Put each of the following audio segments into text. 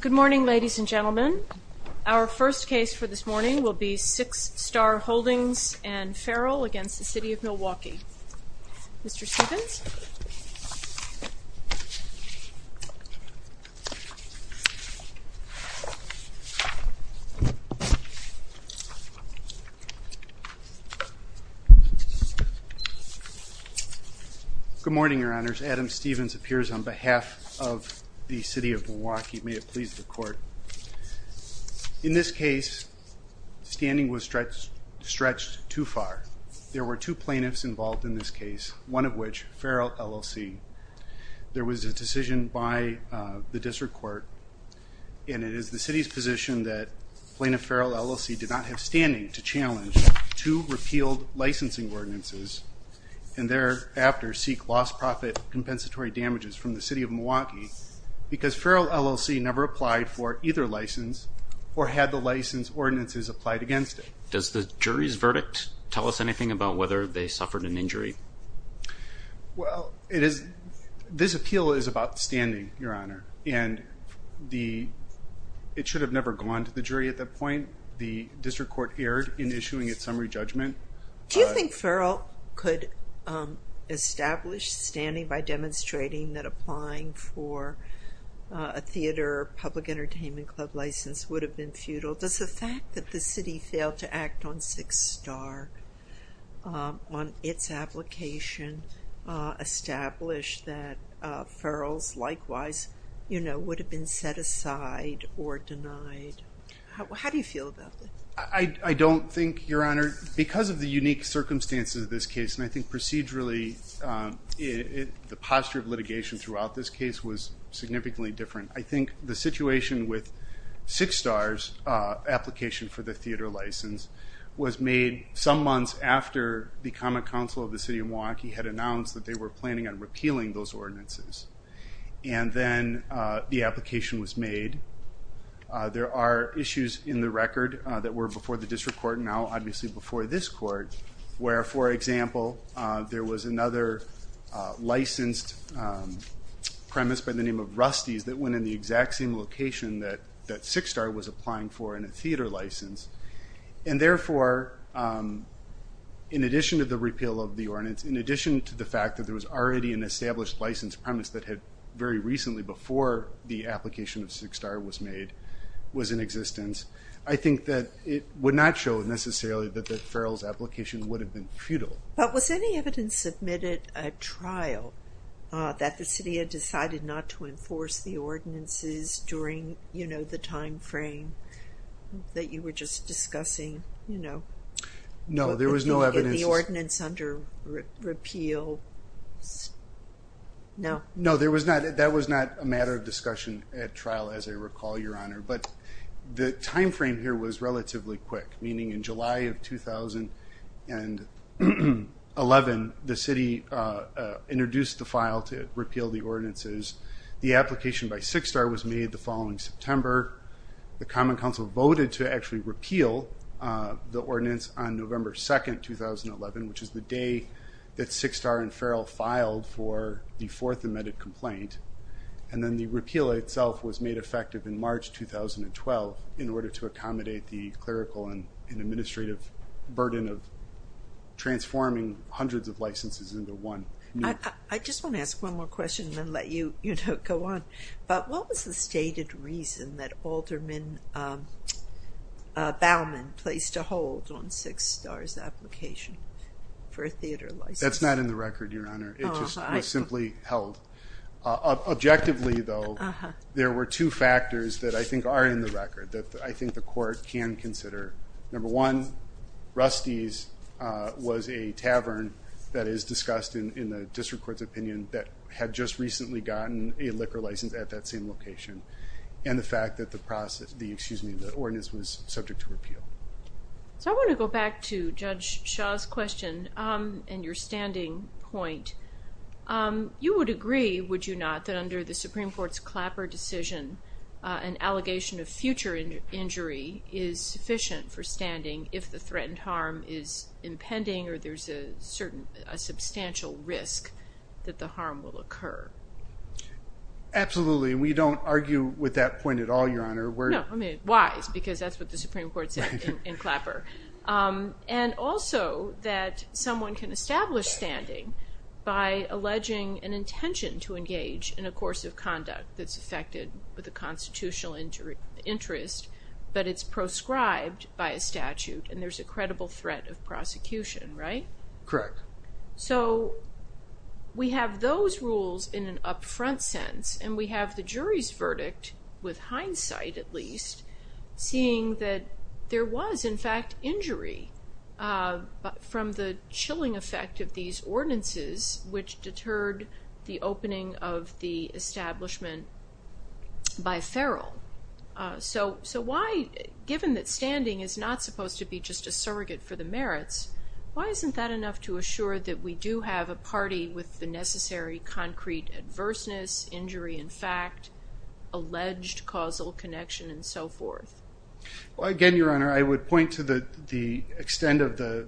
Good morning ladies and gentlemen. Our first case for this morning will be Six Star Holdings and Farrell against the City of Milwaukee. Mr. Stephens. Good morning, Your Honors. Adam Stephens appears on behalf of the City of Milwaukee. May it please the Court. In this case, standing was stretched too far. There were two plaintiffs involved in this case, one of which Farrell, LLC. There was a decision by the District Court, and it is the City's position that Plaintiff Farrell, LLC did not have standing to challenge two repealed licensing ordinances and thereafter seek lost profit compensatory damages from the City of Milwaukee because Farrell, LLC never applied for either license or had the license ordinances applied against it. Does the jury's verdict tell us anything about whether they suffered an injury? Well, it is, this appeal is about standing, Your Honor, and the, it should have never gone to the jury at that point. The District Court erred in issuing its summary judgment. Do you think Farrell could establish standing by demonstrating that applying for a theater public entertainment club license would have been futile? Does the fact that the city failed to act on Six Star, on its application, establish that Farrell's likewise, you know, would have been set aside or denied? How do you feel about that? I don't think, Your Honor, because of the unique circumstances of this case, and I think procedurally, the posture of litigation throughout this case was significantly different. I think the situation with Six Star's application for the theater license was made some months after the Common Council of the City of Milwaukee had announced that they were planning on repealing those ordinances, and then the application was made. There are issues in the record that were before the District Court, now obviously before this court, where, for example, there was another licensed premise by the name of Rusty's that went in the exact same location that Six Star was applying for in a theater license, and therefore, in addition to the repeal of the ordinance, in addition to the fact that there was already an established license premise that had very recently, before the application of Six Star was made, was in existence, I think that it would not show necessarily that the Farrell's application would have been futile. But was any evidence submitted at trial that the city had decided not to enforce the ordinances during, you know, the time frame that you were just discussing, you know? No, there was no evidence. In the ordinance under repeal? No. No, that was not a matter of discussion at trial, as I recall, Your Honor, but the time frame here was relatively quick, meaning in July of 2011, the city introduced the file to repeal the ordinances. The application by Six Star was made the following September. The Common Council voted to actually repeal the ordinance on November 2, 2011, which is the day that Six Star and Farrell filed for the fourth amended complaint, and then the repeal itself was made effective in March 2012 in order to accommodate the clerical and administrative burden of transforming hundreds of licenses into one. I just want to ask one more question and then let you go on. But what was the stated reason that Alderman Baumann placed a hold on Six Star's application for a theater license? That's not in the record, Your Honor. It was simply held. Objectively, though, there were two factors that I think are in the record that I think the court can consider. Number one, Rusty's was a tavern that is discussed in the district court's opinion that had just recently gotten a liquor license at that same location, and the fact that the process, excuse me, the ordinance was subject to repeal. So I want to go back to Judge Shaw's question and your standing point. You would agree, would you not, that under the Supreme Court's Clapper decision, an allegation of future injury is sufficient for standing if the threatened harm is impending or there's a substantial risk that the harm will occur? Absolutely. We don't argue with that point at all, Your Honor. No, I mean, wise, because that's what the Supreme Court said in Clapper. And also that someone can establish standing by alleging an intention to engage in a course of conduct that's affected with a constitutional interest, but it's proscribed by a statute and there's a credible threat of prosecution, right? Correct. So we have those rules in an upfront sense and we have the jury's verdict, with hindsight at least, seeing that there was, in fact, injury from the chilling effect of these ordinances, which deterred the opening of the establishment by feral. So why, given that standing is not supposed to be just a surrogate for the merits, why isn't that enough to assure that we do have a party with the necessary concrete adverseness, injury in fact, alleged causal connection, and so forth? Well, again, Your Honor, I would point to the extent of the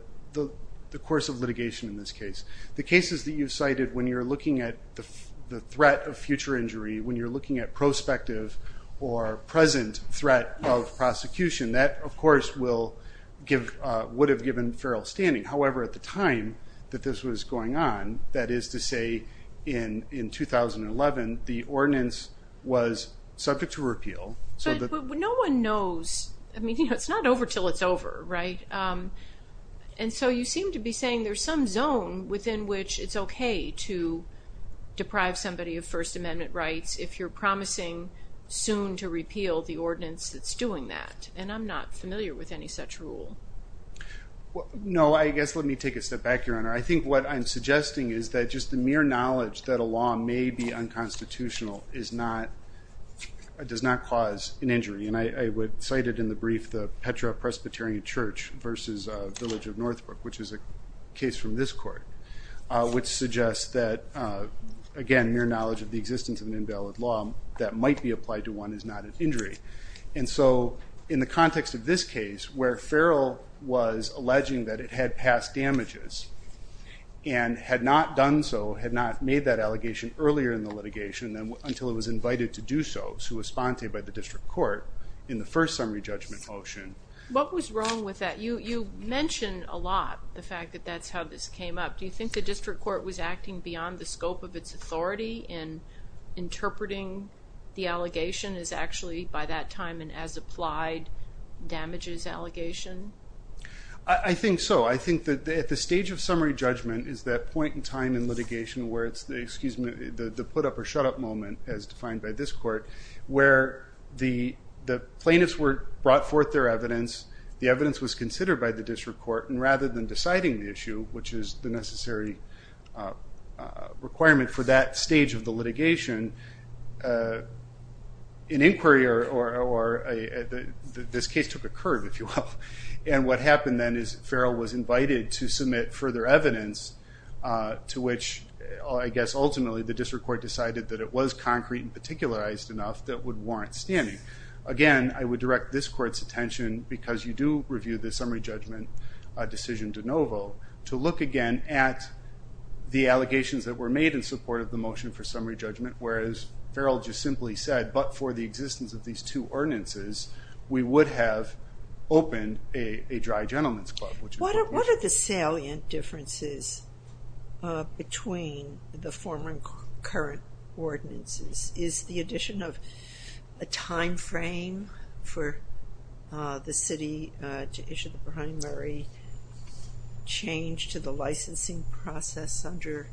course of litigation in this case. The cases that you've cited, when you're looking at the threat of future injury, when you're looking at prospective or present threat of prosecution, that, of course, would have given feral standing. However, at the time that this was going on, that is to say in 2011, the ordinance was subject to repeal. But no one knows. I mean, it's not over until it's over, right? And so you seem to be saying there's some zone within which it's okay to deprive somebody of First Amendment rights if you're promising soon to repeal the ordinance that's doing that. And I'm not familiar with any such rule. No, I guess let me take a step back, Your Honor. I think what I'm suggesting is that just the mere knowledge that a law may be unconstitutional does not cause an injury. And I cited in the brief the Petra Presbyterian Church versus the village of Northbrook, which is a case from this court, which suggests that, again, mere knowledge of the existence of an invalid law that might be applied to one is not an injury. And so in the context of this case, where feral was alleging that it had passed damages and had not done so, had not made that allegation earlier in the litigation until it was invited to do so, to a sponte by the district court in the first summary judgment motion. What was wrong with that? You mentioned a lot the fact that that's how this came up. Do you think the district court was acting beyond the scope of its authority in interpreting the allegation as actually, by that time, an as-applied damages allegation? I think so. I think that at the stage of summary judgment is that point in time in litigation where it's the put-up-or-shut-up moment, as defined by this court, where the plaintiffs brought forth their evidence, the evidence was considered by the district court, and rather than deciding the issue, which is the necessary requirement for that stage of the litigation, an inquiry or this case took a curve, if you will. And what happened then is feral was invited to submit further evidence to which, I guess, ultimately the district court decided that it was concrete and particularized enough that would warrant standing. Again, I would direct this court's attention, because you do review the summary judgment decision de novo, to look again at the allegations that were made in support of the motion for summary judgment, whereas feral just simply said, but for the existence of these two ordinances, we would have opened a dry gentleman's club. What are the salient differences between the former and current ordinances? Is the addition of a time frame for the city to issue the primary change to the licensing process under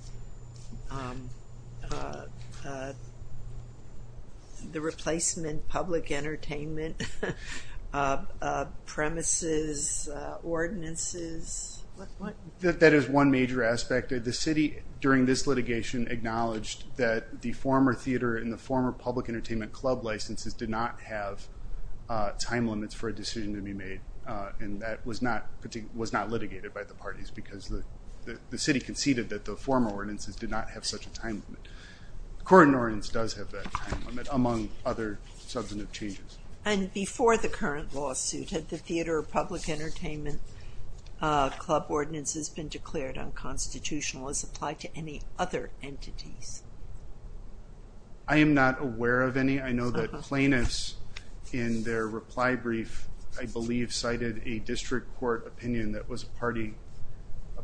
the replacement public entertainment premises ordinances? That is one major aspect. The city, during this litigation, acknowledged that the former theater and the former public entertainment club licenses did not have time limits for a decision to be made, and that was not litigated by the parties because the city conceded that the former ordinances did not have such a time limit. The current ordinance does have that time limit, among other substantive changes. And before the current lawsuit, had the theater or public entertainment club ordinance has been declared unconstitutional, as applied to any other entities? I am not aware of any. I know that plaintiffs, in their reply brief, I believe cited a district court opinion that was a party,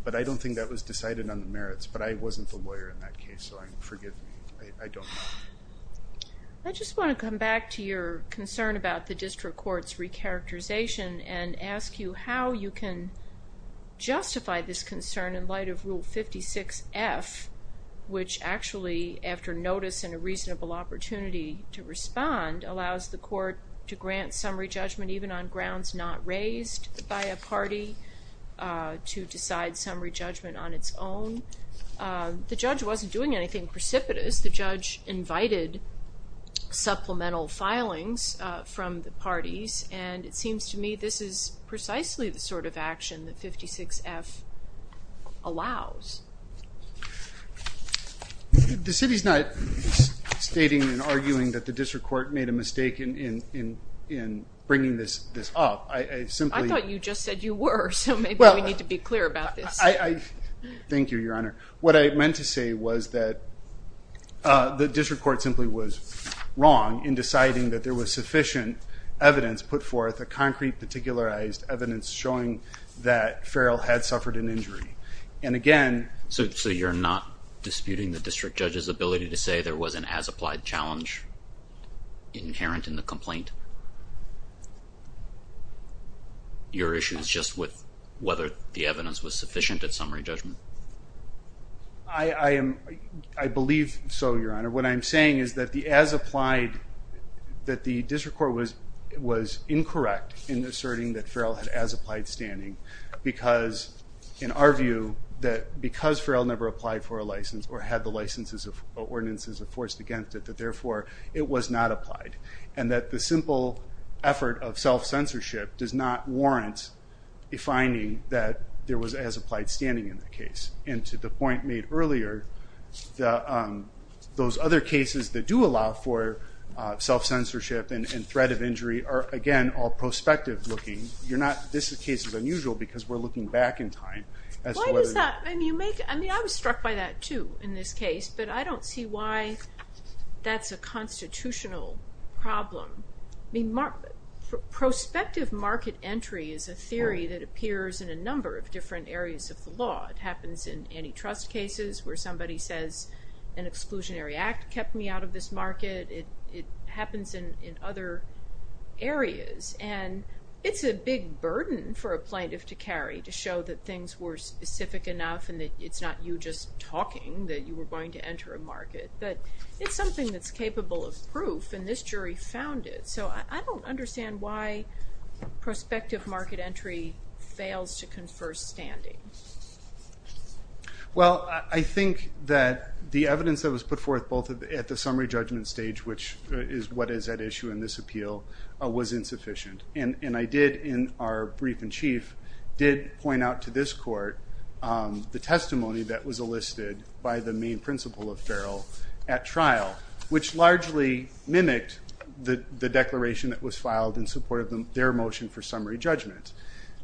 but I don't think that was decided on the merits, but I wasn't the lawyer in that case, so forgive me. I don't know. I just want to come back to your concern about the district court's recharacterization and ask you how you can justify this concern in light of Rule 56F, which actually, after notice and a reasonable opportunity to respond, allows the court to grant summary judgment even on grounds not raised by a party, to decide summary judgment on its own. The judge wasn't doing anything precipitous. The judge invited supplemental filings from the parties, and it seems to me this is precisely the sort of action that 56F allows. The city's not stating and arguing that the district court made a mistake in bringing this up. I thought you just said you were, so maybe we need to be clear about this. Thank you, Your Honor. What I meant to say was that the district court simply was wrong in deciding that there was sufficient evidence put forth, a concrete particularized evidence showing that Farrell had suffered an injury. So you're not disputing the district judge's ability to say there was an as-applied challenge inherent in the complaint? Your issue is just with whether the evidence was sufficient at summary judgment. I believe so, Your Honor. What I'm saying is that the as-applied, that the district court was incorrect in asserting that Farrell had as-applied standing because, in our view, because Farrell never applied for a license or had the licenses or ordinances enforced against it, that therefore it was not applied. And that the simple effort of self-censorship does not warrant a finding that there was as-applied standing in the case. And to the point made earlier, those other cases that do allow for self-censorship and threat of injury are, again, all prospective looking. You're not, this case is unusual because we're looking back in time. Why does that, I mean you make, I mean I was struck by that too in this case, but I don't see why that's a constitutional problem. Prospective market entry is a theory that appears in a number of different areas of the law. It happens in antitrust cases where somebody says, an exclusionary act kept me out of this market. It happens in other areas. And it's a big burden for a plaintiff to carry to show that things were specific enough and that it's not you just talking, that you were going to enter a market. But it's something that's capable of proof, and this jury found it. So I don't understand why prospective market entry fails to confer standing. Well, I think that the evidence that was put forth both at the summary judgment stage, which is what is at issue in this appeal, was insufficient. And I did, in our brief in chief, did point out to this court the testimony that was elicited by the main principle of Farrell at trial, which largely mimicked the declaration that was filed in support of their motion for summary judgment.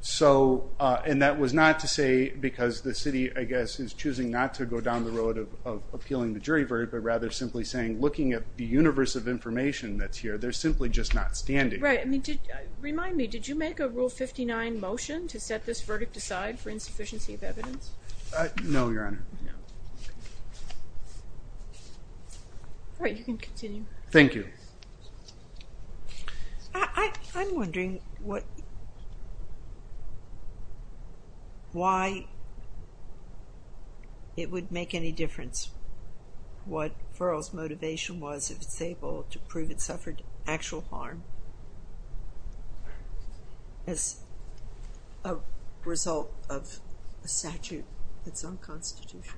So, and that was not to say because the city, I guess, is choosing not to go down the road of appealing the jury verdict, but rather simply saying looking at the universe of information that's here, they're simply just not standing. Right. Remind me, did you make a Rule 59 motion to set this verdict aside for insufficiency of evidence? No, Your Honor. All right, you can continue. Thank you. I'm wondering why it would make any difference what Farrell's motivation was if it's able to prove it suffered actual harm as a result of a statute that's unconstitutional.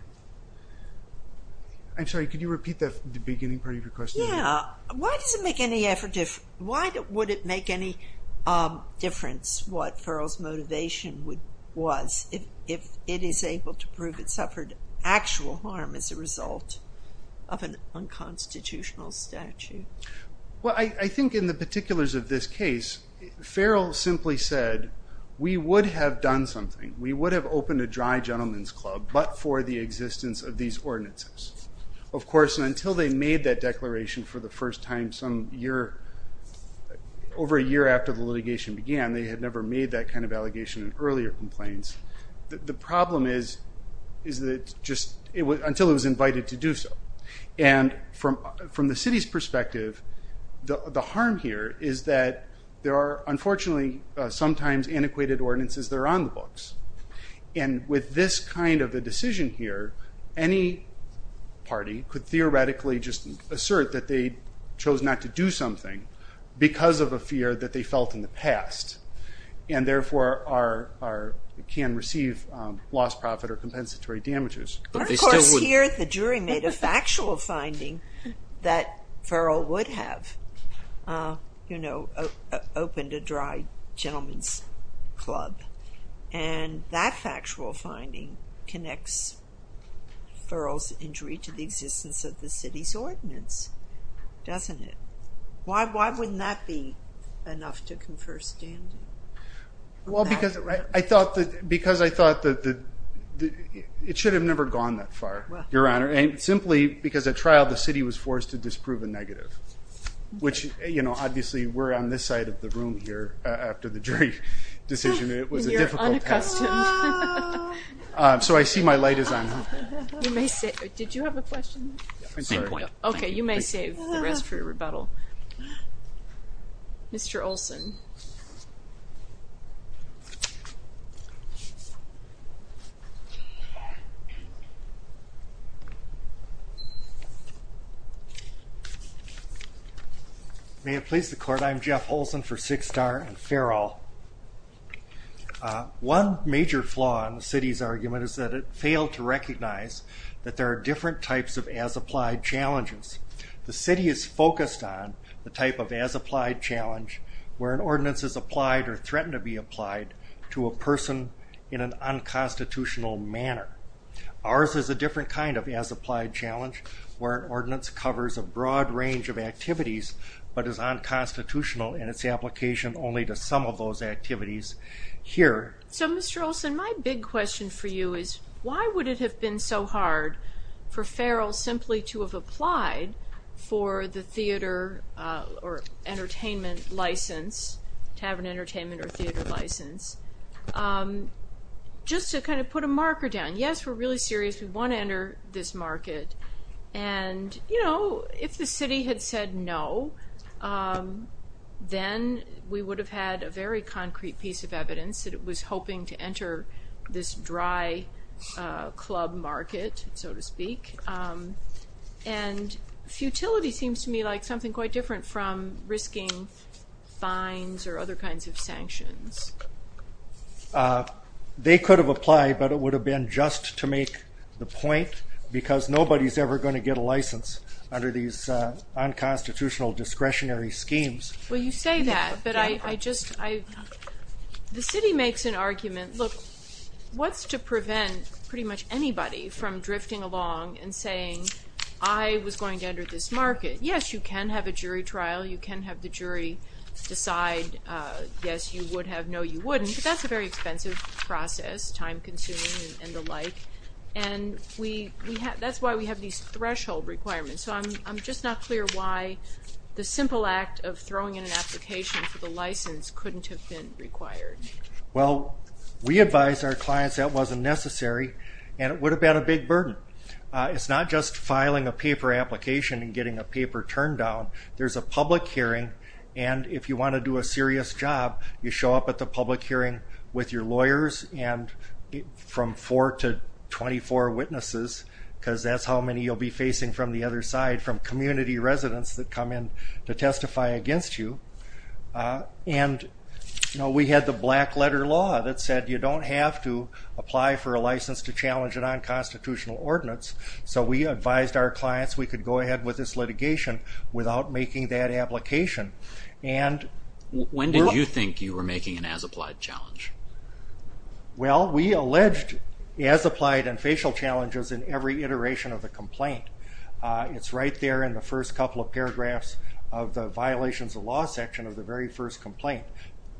I'm sorry, could you repeat the beginning part of your question? Yeah. Why does it make any effort, why would it make any difference what Farrell's motivation was if it is able to prove it suffered actual harm as a result of an unconstitutional statute? Well, I think in the particulars of this case, Farrell simply said, we would have done something, we would have opened a dry gentleman's club, but for the existence of these ordinances. Of course, until they made that declaration for the first time some year, over a year after the litigation began, they had never made that kind of allegation in earlier complaints. The problem is that just until it was invited to do so. And from the city's perspective, the harm here is that there are unfortunately sometimes antiquated ordinances that are on the books. And with this kind of a decision here, any party could theoretically just assert that they chose not to do something because of a fear that they felt in the past, and therefore can receive lost profit or compensatory damages. But of course here the jury made a factual finding that Farrell would have, you know, opened a dry gentleman's club. And that factual finding connects Farrell's injury to the existence of the city's ordinance, doesn't it? Why wouldn't that be enough to confer standing? Well, because I thought that it should have never gone that far, Your Honor. And simply because at trial the city was forced to disprove a negative. Which, you know, obviously we're on this side of the room here after the jury decision. It was a difficult task. And you're unaccustomed. So I see my light is on. Did you have a question? Same point. Okay, you may save the rest for your rebuttal. Mr. Olson. May it please the Court, I'm Jeff Olson for Sixtar and Farrell. One major flaw in the city's argument is that it failed to recognize that there are different types of as-applied challenges. The city is focused on the type of as-applied challenge where an ordinance is applied or threatened to be applied to a person in an unconstitutional manner. Ours is a different kind of as-applied challenge where an ordinance covers a broad range of activities but is unconstitutional in its application only to some of those activities here. So, Mr. Olson, my big question for you is why would it have been so hard for Farrell simply to have applied for the theater or entertainment license, tavern entertainment or theater license, just to kind of put a marker down. Yes, we're really serious. We want to enter this market. And, you know, if the city had said no, then we would have had a very concrete piece of evidence that it was hoping to enter this dry club market, so to speak. And futility seems to me like something quite different from risking fines or other kinds of sanctions. They could have applied, but it would have been just to make the point, because nobody's ever going to get a license under these unconstitutional discretionary schemes. Well, you say that, but I just, I, the city makes an argument. Look, what's to prevent pretty much anybody from drifting along and saying, I was going to enter this market. Yes, you can have a jury trial. You can have the jury decide yes, you would have, no, you wouldn't. But that's a very expensive process, time-consuming and the like. And that's why we have these threshold requirements. So I'm just not clear why the simple act of throwing in an application for the license couldn't have been required. Well, we advised our clients that wasn't necessary, and it would have been a big burden. It's not just filing a paper application and getting a paper turned down. There's a public hearing, and if you want to do a serious job, you show up at the public hearing with your lawyers and from four to 24 witnesses, because that's how many you'll be facing from the other side, from community residents that come in to testify against you. And, you know, we had the black letter law that said you don't have to apply for a license to challenge a nonconstitutional ordinance, so we advised our clients we could go ahead with this litigation without making that application. When did you think you were making an as-applied challenge? Well, we alleged as-applied and facial challenges in every iteration of the complaint. It's right there in the first couple of paragraphs of the violations of law section of the very first complaint,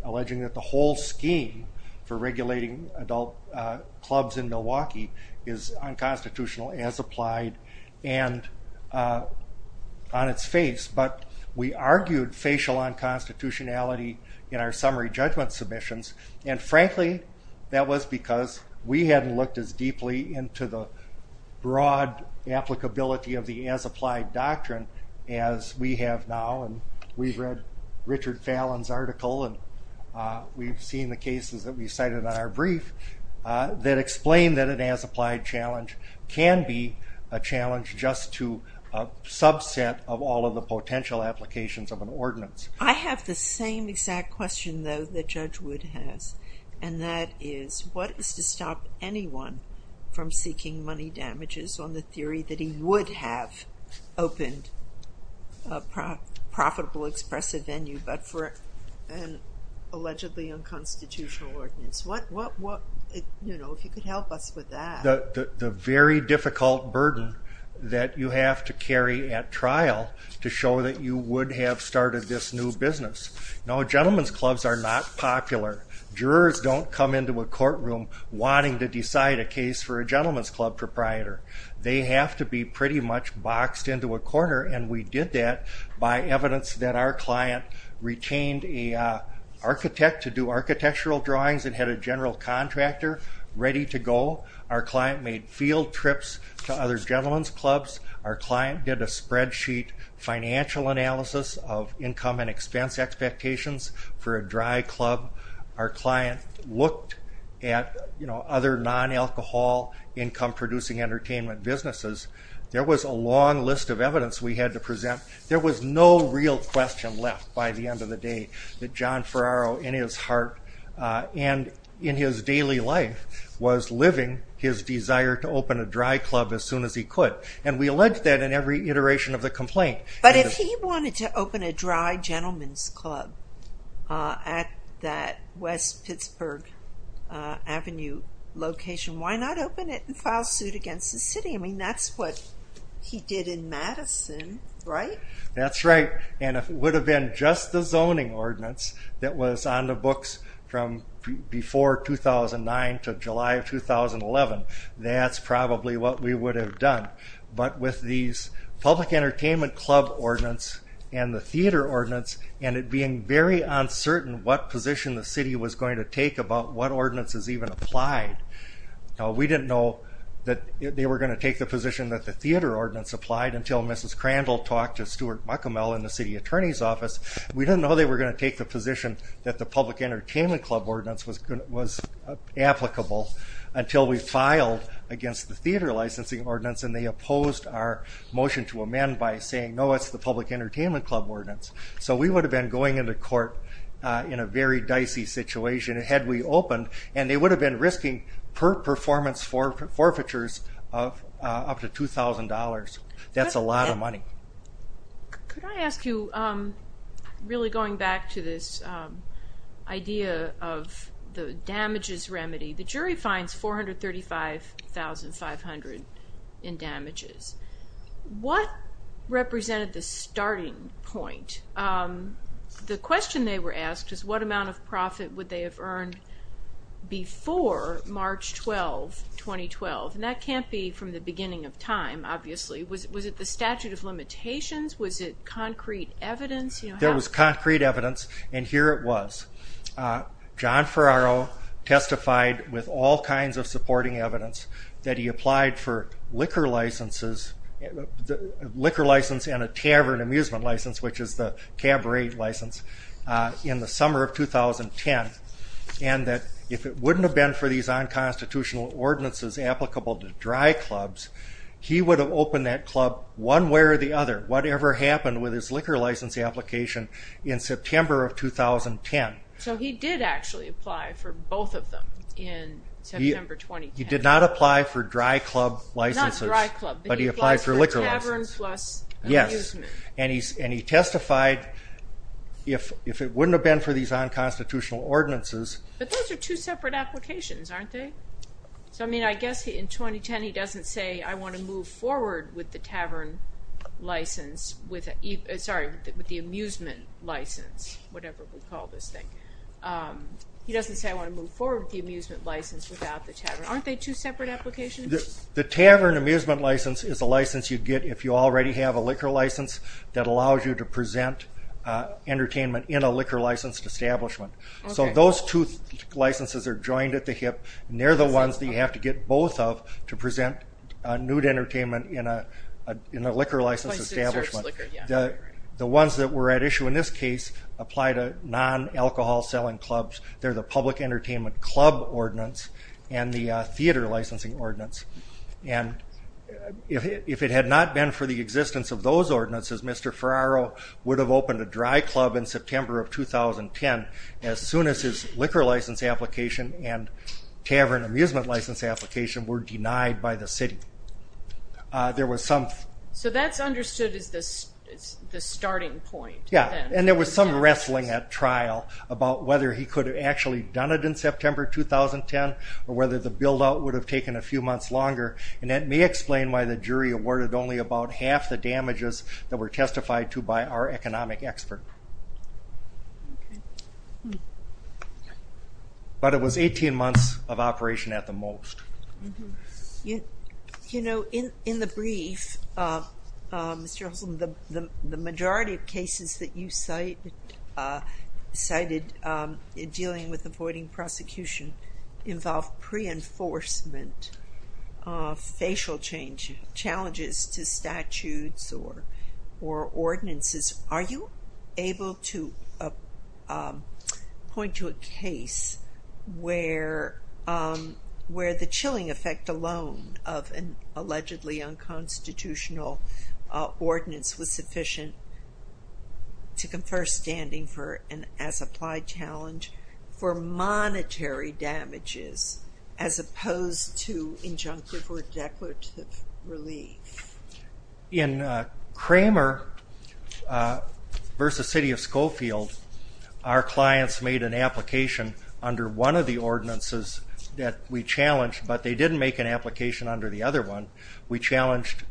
alleging that the whole scheme for regulating adult clubs in Milwaukee is unconstitutional as-applied and on its face. But we argued facial unconstitutionality in our summary judgment submissions, and frankly that was because we hadn't looked as deeply into the broad applicability of the as-applied doctrine as we have now, and we've read Richard Fallon's article, and we've seen the cases that we've cited on our brief that explain that an as-applied challenge can be a challenge just to a subset of all of the potential applications of an ordinance. I have the same exact question, though, that Judge Wood has, and that is, what is to stop anyone from seeking money damages on the theory that he would have opened a profitable, expressive venue, but for an allegedly unconstitutional ordinance? What, you know, if you could help us with that. The very difficult burden that you have to carry at trial to show that you would have started this new business. Now, gentleman's clubs are not popular. Jurors don't come into a courtroom wanting to decide a case for a gentleman's club proprietor. They have to be pretty much boxed into a corner, and we did that by evidence that our client retained an architect to do architectural drawings and had a general contractor ready to go. Our client made field trips to other gentleman's clubs. Our client did a spreadsheet financial analysis of income and expense expectations for a dry club. Our client looked at other non-alcohol income-producing entertainment businesses. There was a long list of evidence we had to present. There was no real question left by the end of the day that John Ferraro, in his heart and in his daily life, was living his desire to open a dry club as soon as he could, and we alleged that in every iteration of the complaint. But if he wanted to open a dry gentleman's club at that West Pittsburgh Avenue location, why not open it and file suit against the city? I mean, that's what he did in Madison, right? That's right, and if it would have been just the zoning ordinance that was on the books from before 2009 to July of 2011, that's probably what we would have done. But with these public entertainment club ordinance and the theater ordinance and it being very uncertain what position the city was going to take about what ordinance is even applied, we didn't know that they were going to take the position that the theater ordinance applied until Mrs. Crandall talked to Stuart McCormell in the city attorney's office. We didn't know they were going to take the position that the public entertainment club ordinance was applicable until we filed against the theater licensing ordinance and they opposed our motion to amend by saying, no, it's the public entertainment club ordinance. So we would have been going into court in a very dicey situation had we opened, and they would have been risking per performance forfeitures of up to $2,000. That's a lot of money. Could I ask you, really going back to this idea of the damages remedy, the jury finds $435,500 in damages. What represented the starting point? The question they were asked is what amount of profit would they have earned before March 12, 2012? And that can't be from the beginning of time, obviously. Was it the statute of limitations? Was it concrete evidence? There was concrete evidence, and here it was. John Ferraro testified with all kinds of supporting evidence that he applied for liquor licenses and a tavern amusement license, which is the cabaret license, in the summer of 2010, and that if it wouldn't have been for these unconstitutional ordinances applicable to dry clubs, he would have opened that club one way or the other, whatever happened with his liquor license application in September of 2010. So he did actually apply for both of them in September 2010. He did not apply for dry club licenses. Not dry club, but he applied for a tavern plus amusement. Yes, and he testified if it wouldn't have been for these unconstitutional ordinances. But those are two separate applications, aren't they? So, I mean, I guess in 2010 he doesn't say, I want to move forward with the amusement license, whatever we call this thing. He doesn't say, I want to move forward with the amusement license without the tavern. Aren't they two separate applications? The tavern amusement license is a license you get if you already have a liquor license that allows you to present entertainment in a liquor licensed establishment. So those two licenses are joined at the hip, and they're the ones that you have to get both of to present nude entertainment in a liquor licensed establishment. The ones that were at issue in this case apply to non-alcohol selling clubs. They're the public entertainment club ordinance and the theater licensing ordinance. And if it had not been for the existence of those ordinances, Mr. Ferraro would have opened a dry club in September of 2010, as soon as his liquor license application and tavern amusement license application were denied by the city. So that's understood as the starting point. Yeah, and there was some wrestling at trial about whether he could have actually done it in September 2010 or whether the build-out would have taken a few months longer, and that may explain why the jury awarded only about half the damages that were testified to by our economic expert. But it was 18 months of operation at the most. You know, in the brief, Mr. Husson, the majority of cases that you cited dealing with avoiding prosecution involve pre-enforcement, facial changes to statutes or ordinances. Are you able to point to a case where the chilling effect alone of an allegedly unconstitutional ordinance was sufficient to confer standing for an as-applied challenge for monetary damages as opposed to injunctive or declarative relief? In Kramer v. City of Schofield, our clients made an application under one of the ordinances that we challenged, but they didn't make an application under the other one. We challenged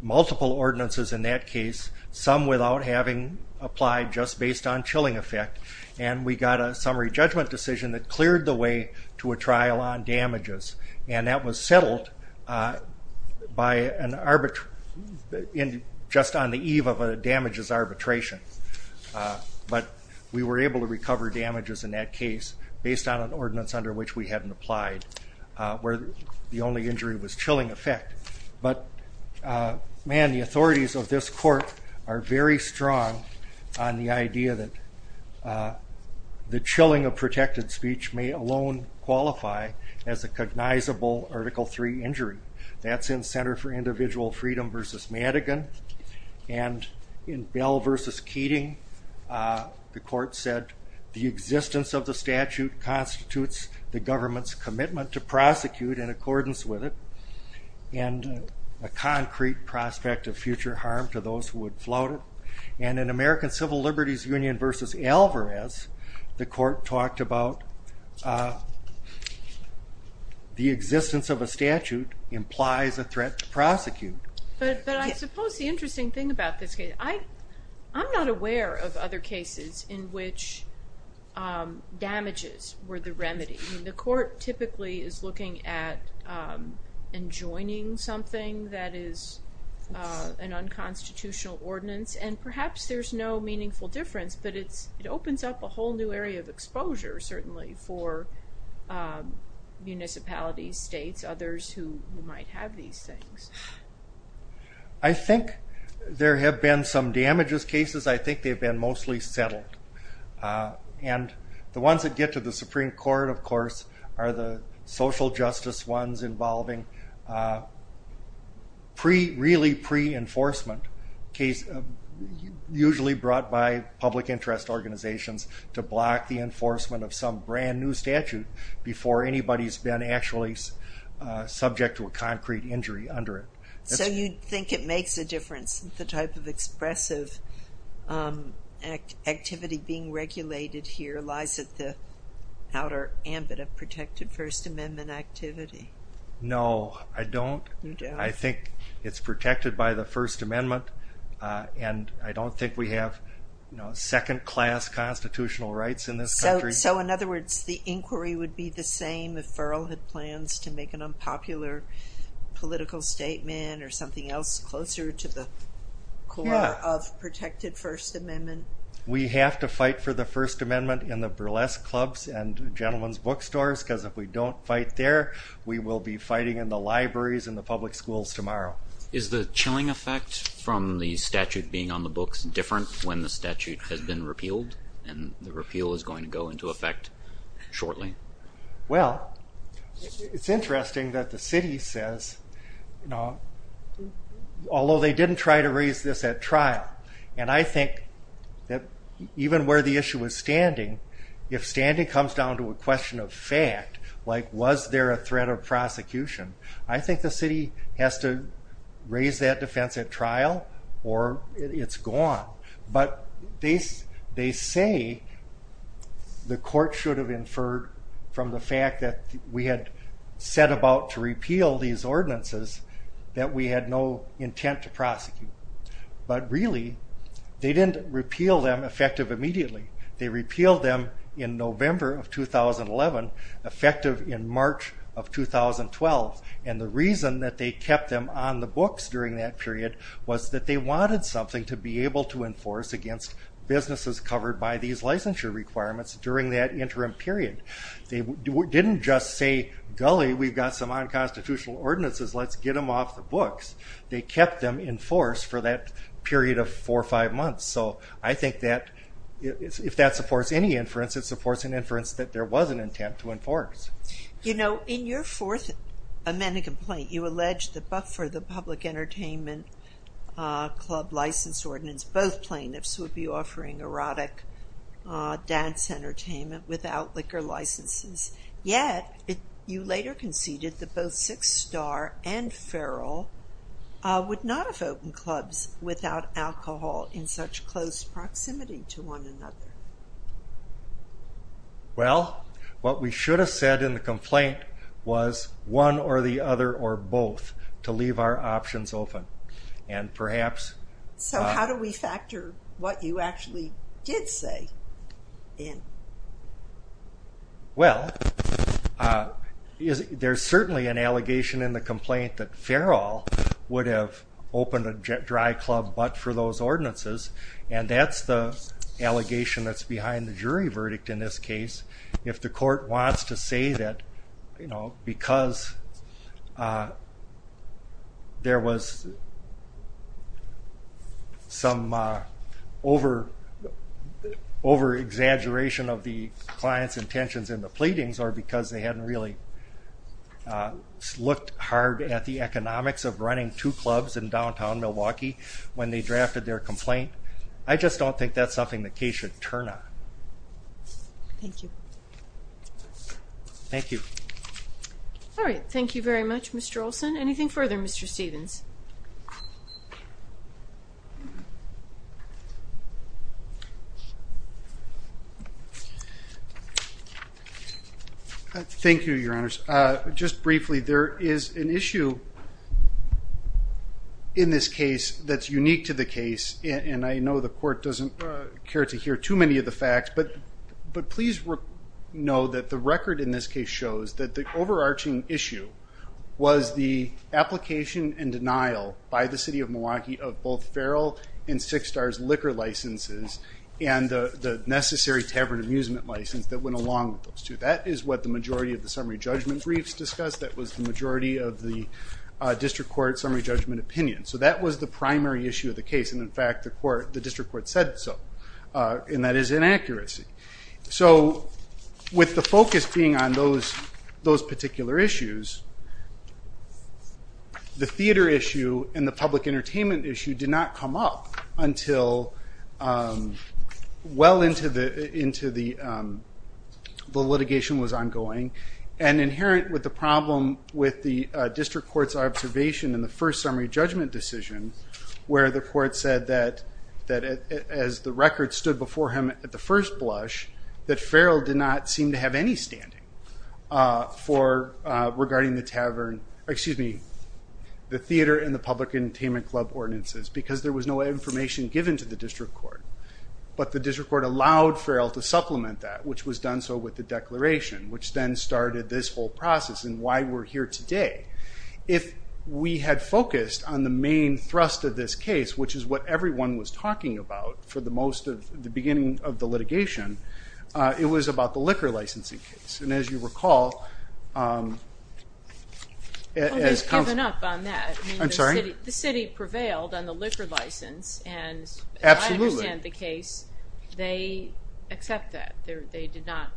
multiple ordinances in that case, some without having applied, just based on chilling effect, and we got a summary judgment decision that cleared the way to a trial on damages, and that was settled just on the eve of a damages arbitration. But we were able to recover damages in that case based on an ordinance under which we hadn't applied, where the only injury was chilling effect. But, man, the authorities of this court are very strong on the idea that the chilling of protected speech may alone qualify as a cognizable Article III injury. That's in Center for Individual Freedom v. Madigan, and in Bell v. Keating, the court said, the existence of the statute constitutes the government's commitment to prosecute in accordance with it, and a concrete prospect of future harm to those who would flout it, and in American Civil Liberties Union v. Alvarez, the court talked about the existence of a statute implies a threat to prosecute. But I suppose the interesting thing about this case, I'm not aware of other cases in which damages were the remedy. The court typically is looking at enjoining something that is an unconstitutional ordinance, and perhaps there's no meaningful difference, but it opens up a whole new area of exposure, certainly, for municipalities, states, others who might have these things. I think there have been some damages cases. I think they've been mostly settled. And the ones that get to the Supreme Court, of course, are the social justice ones involving really pre-enforcement, usually brought by public interest organizations, to block the enforcement of some brand new statute before anybody's been actually subject to a concrete injury under it. So you think it makes a difference, the type of expressive activity being regulated here lies at the outer ambit of protected First Amendment activity? No, I don't. I think it's protected by the First Amendment, and I don't think we have second-class constitutional rights in this country. So, in other words, the inquiry would be the same if Ferrell had plans to make an unpopular political statement or something else closer to the core of protected First Amendment? We have to fight for the First Amendment in the burlesque clubs and gentlemen's bookstores, because if we don't fight there, we will be fighting in the libraries and the public schools tomorrow. Is the chilling effect from the statute being on the books different when the statute has been repealed, and the repeal is going to go into effect shortly? Well, it's interesting that the city says, although they didn't try to raise this at trial, and I think that even where the issue is standing, if standing comes down to a question of fact, like was there a threat of prosecution, I think the city has to raise that defense at trial, or it's gone. But they say the court should have inferred from the fact that we had set about to repeal these ordinances that we had no intent to prosecute. But really, they didn't repeal them effective immediately. They repealed them in November of 2011, effective in March of 2012, and the reason that they kept them on the books during that period was that they wanted something to be able to enforce against businesses covered by these licensure requirements during that interim period. They didn't just say, gully, we've got some unconstitutional ordinances, let's get them off the books. They kept them in force for that period of four or five months. So I think that if that supports any inference, it supports an inference that there was an intent to enforce. You know, in your fourth amendment complaint, you alleged that Buckford, the public entertainment club license ordinance, both plaintiffs would be offering erotic dance entertainment without liquor licenses, yet you later conceded that both Six Star and Feral would not have opened clubs without alcohol in such close proximity to one another. Well, what we should have said in the complaint was one or the other or both to leave our options open. And perhaps... So how do we factor what you actually did say in? Well, there's certainly an allegation in the complaint that Feral would have opened a dry club but for those ordinances, and that's the allegation that's behind the jury verdict in this case. If the court wants to say that, you know, because there was some over-exaggeration of the client's intentions in the pleadings or because they hadn't really looked hard at the economics of running two clubs in downtown Milwaukee when they drafted their complaint, I just don't think that's something the case should turn on. Thank you. Thank you. All right, thank you very much, Mr. Olson. Anything further, Mr. Stevens? Thank you, Your Honors. Just briefly, there is an issue in this case that's unique to the case, and I know the court doesn't care to hear too many of the facts, but please know that the record in this case shows that the overarching issue was the application and denial by the city of Milwaukee of both Feral and Six Star's liquor licenses and the necessary tavern amusement license that went along with those two. That is what the majority of the summary judgment briefs discussed. That was the majority of the district court summary judgment opinion. So that was the primary issue of the case, and in fact the district court said so, and that is inaccuracy. So with the focus being on those particular issues, the theater issue and the public entertainment issue did not come up until well into the litigation was ongoing, and inherent with the problem with the district court's observation in the first summary judgment decision, where the court said that as the record stood before him at the first blush, that Feral did not seem to have any standing regarding the theater and the public entertainment club ordinances because there was no information given to the district court. But the district court allowed Feral to supplement that, which was done so with the declaration, which then started this whole process and why we're here today. If we had focused on the main thrust of this case, which is what everyone was talking about for the beginning of the litigation, it was about the liquor licensing case. And as you recall... Well, they've given up on that. I'm sorry? The city prevailed on the liquor license. Absolutely. And I understand the case. They accept that. They're not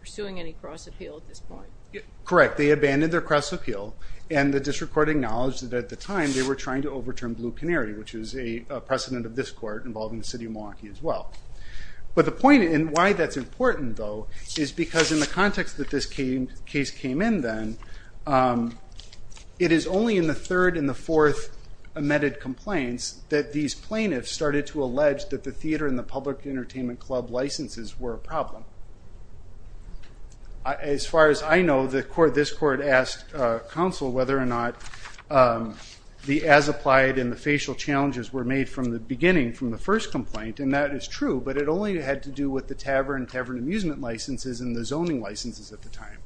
pursuing any cross appeal at this point. Correct. They abandoned their cross appeal, and the district court acknowledged that at the time they were trying to overturn Blue Canary, which is a precedent of this court involving the city of Milwaukee as well. But the point and why that's important, though, is because in the context that this case came in then, it is only in the third and the fourth amended complaints that these plaintiffs started to allege that the theater and the public entertainment club licenses were a problem. As far as I know, this court asked counsel whether or not the as-applied and the facial challenges were made from the beginning, from the first complaint, and that is true, but it only had to do with the tavern and tavern amusement licenses and the zoning licenses at the time.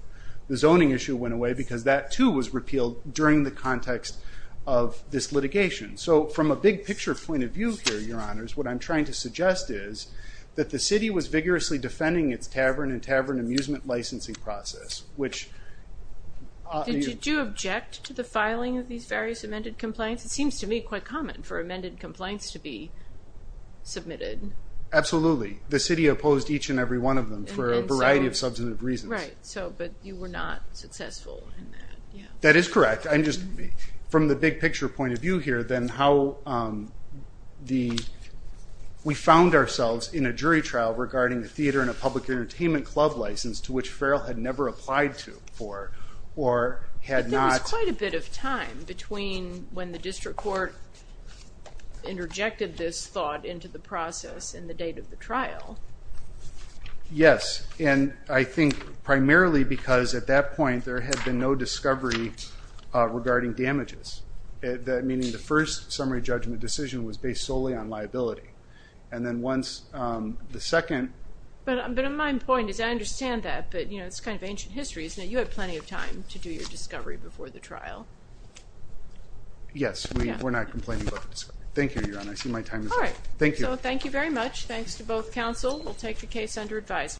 The zoning issue went away because that, too, was repealed during the context of this litigation. So from a big-picture point of view here, Your Honors, what I'm trying to suggest is that the city was vigorously defending its tavern and tavern amusement licensing process, which... Did you object to the filing of these various amended complaints? It seems to me quite common for amended complaints to be submitted. Absolutely. The city opposed each and every one of them for a variety of substantive reasons. Right, but you were not successful in that. That is correct. From the big-picture point of view here, then, how the... We found ourselves in a jury trial regarding the theater and the public entertainment club license to which Farrell had never applied to or had not... between when the district court interjected this thought into the process and the date of the trial. Yes, and I think primarily because at that point there had been no discovery regarding damages, meaning the first summary judgment decision was based solely on liability. And then once the second... But my point is I understand that, but it's kind of ancient history. Now, you had plenty of time to do your discovery before the trial. Yes, we're not complaining about the discovery. Thank you, Your Honor. I see my time is up. All right. So thank you very much. Thanks to both counsel. We'll take the case under advisement.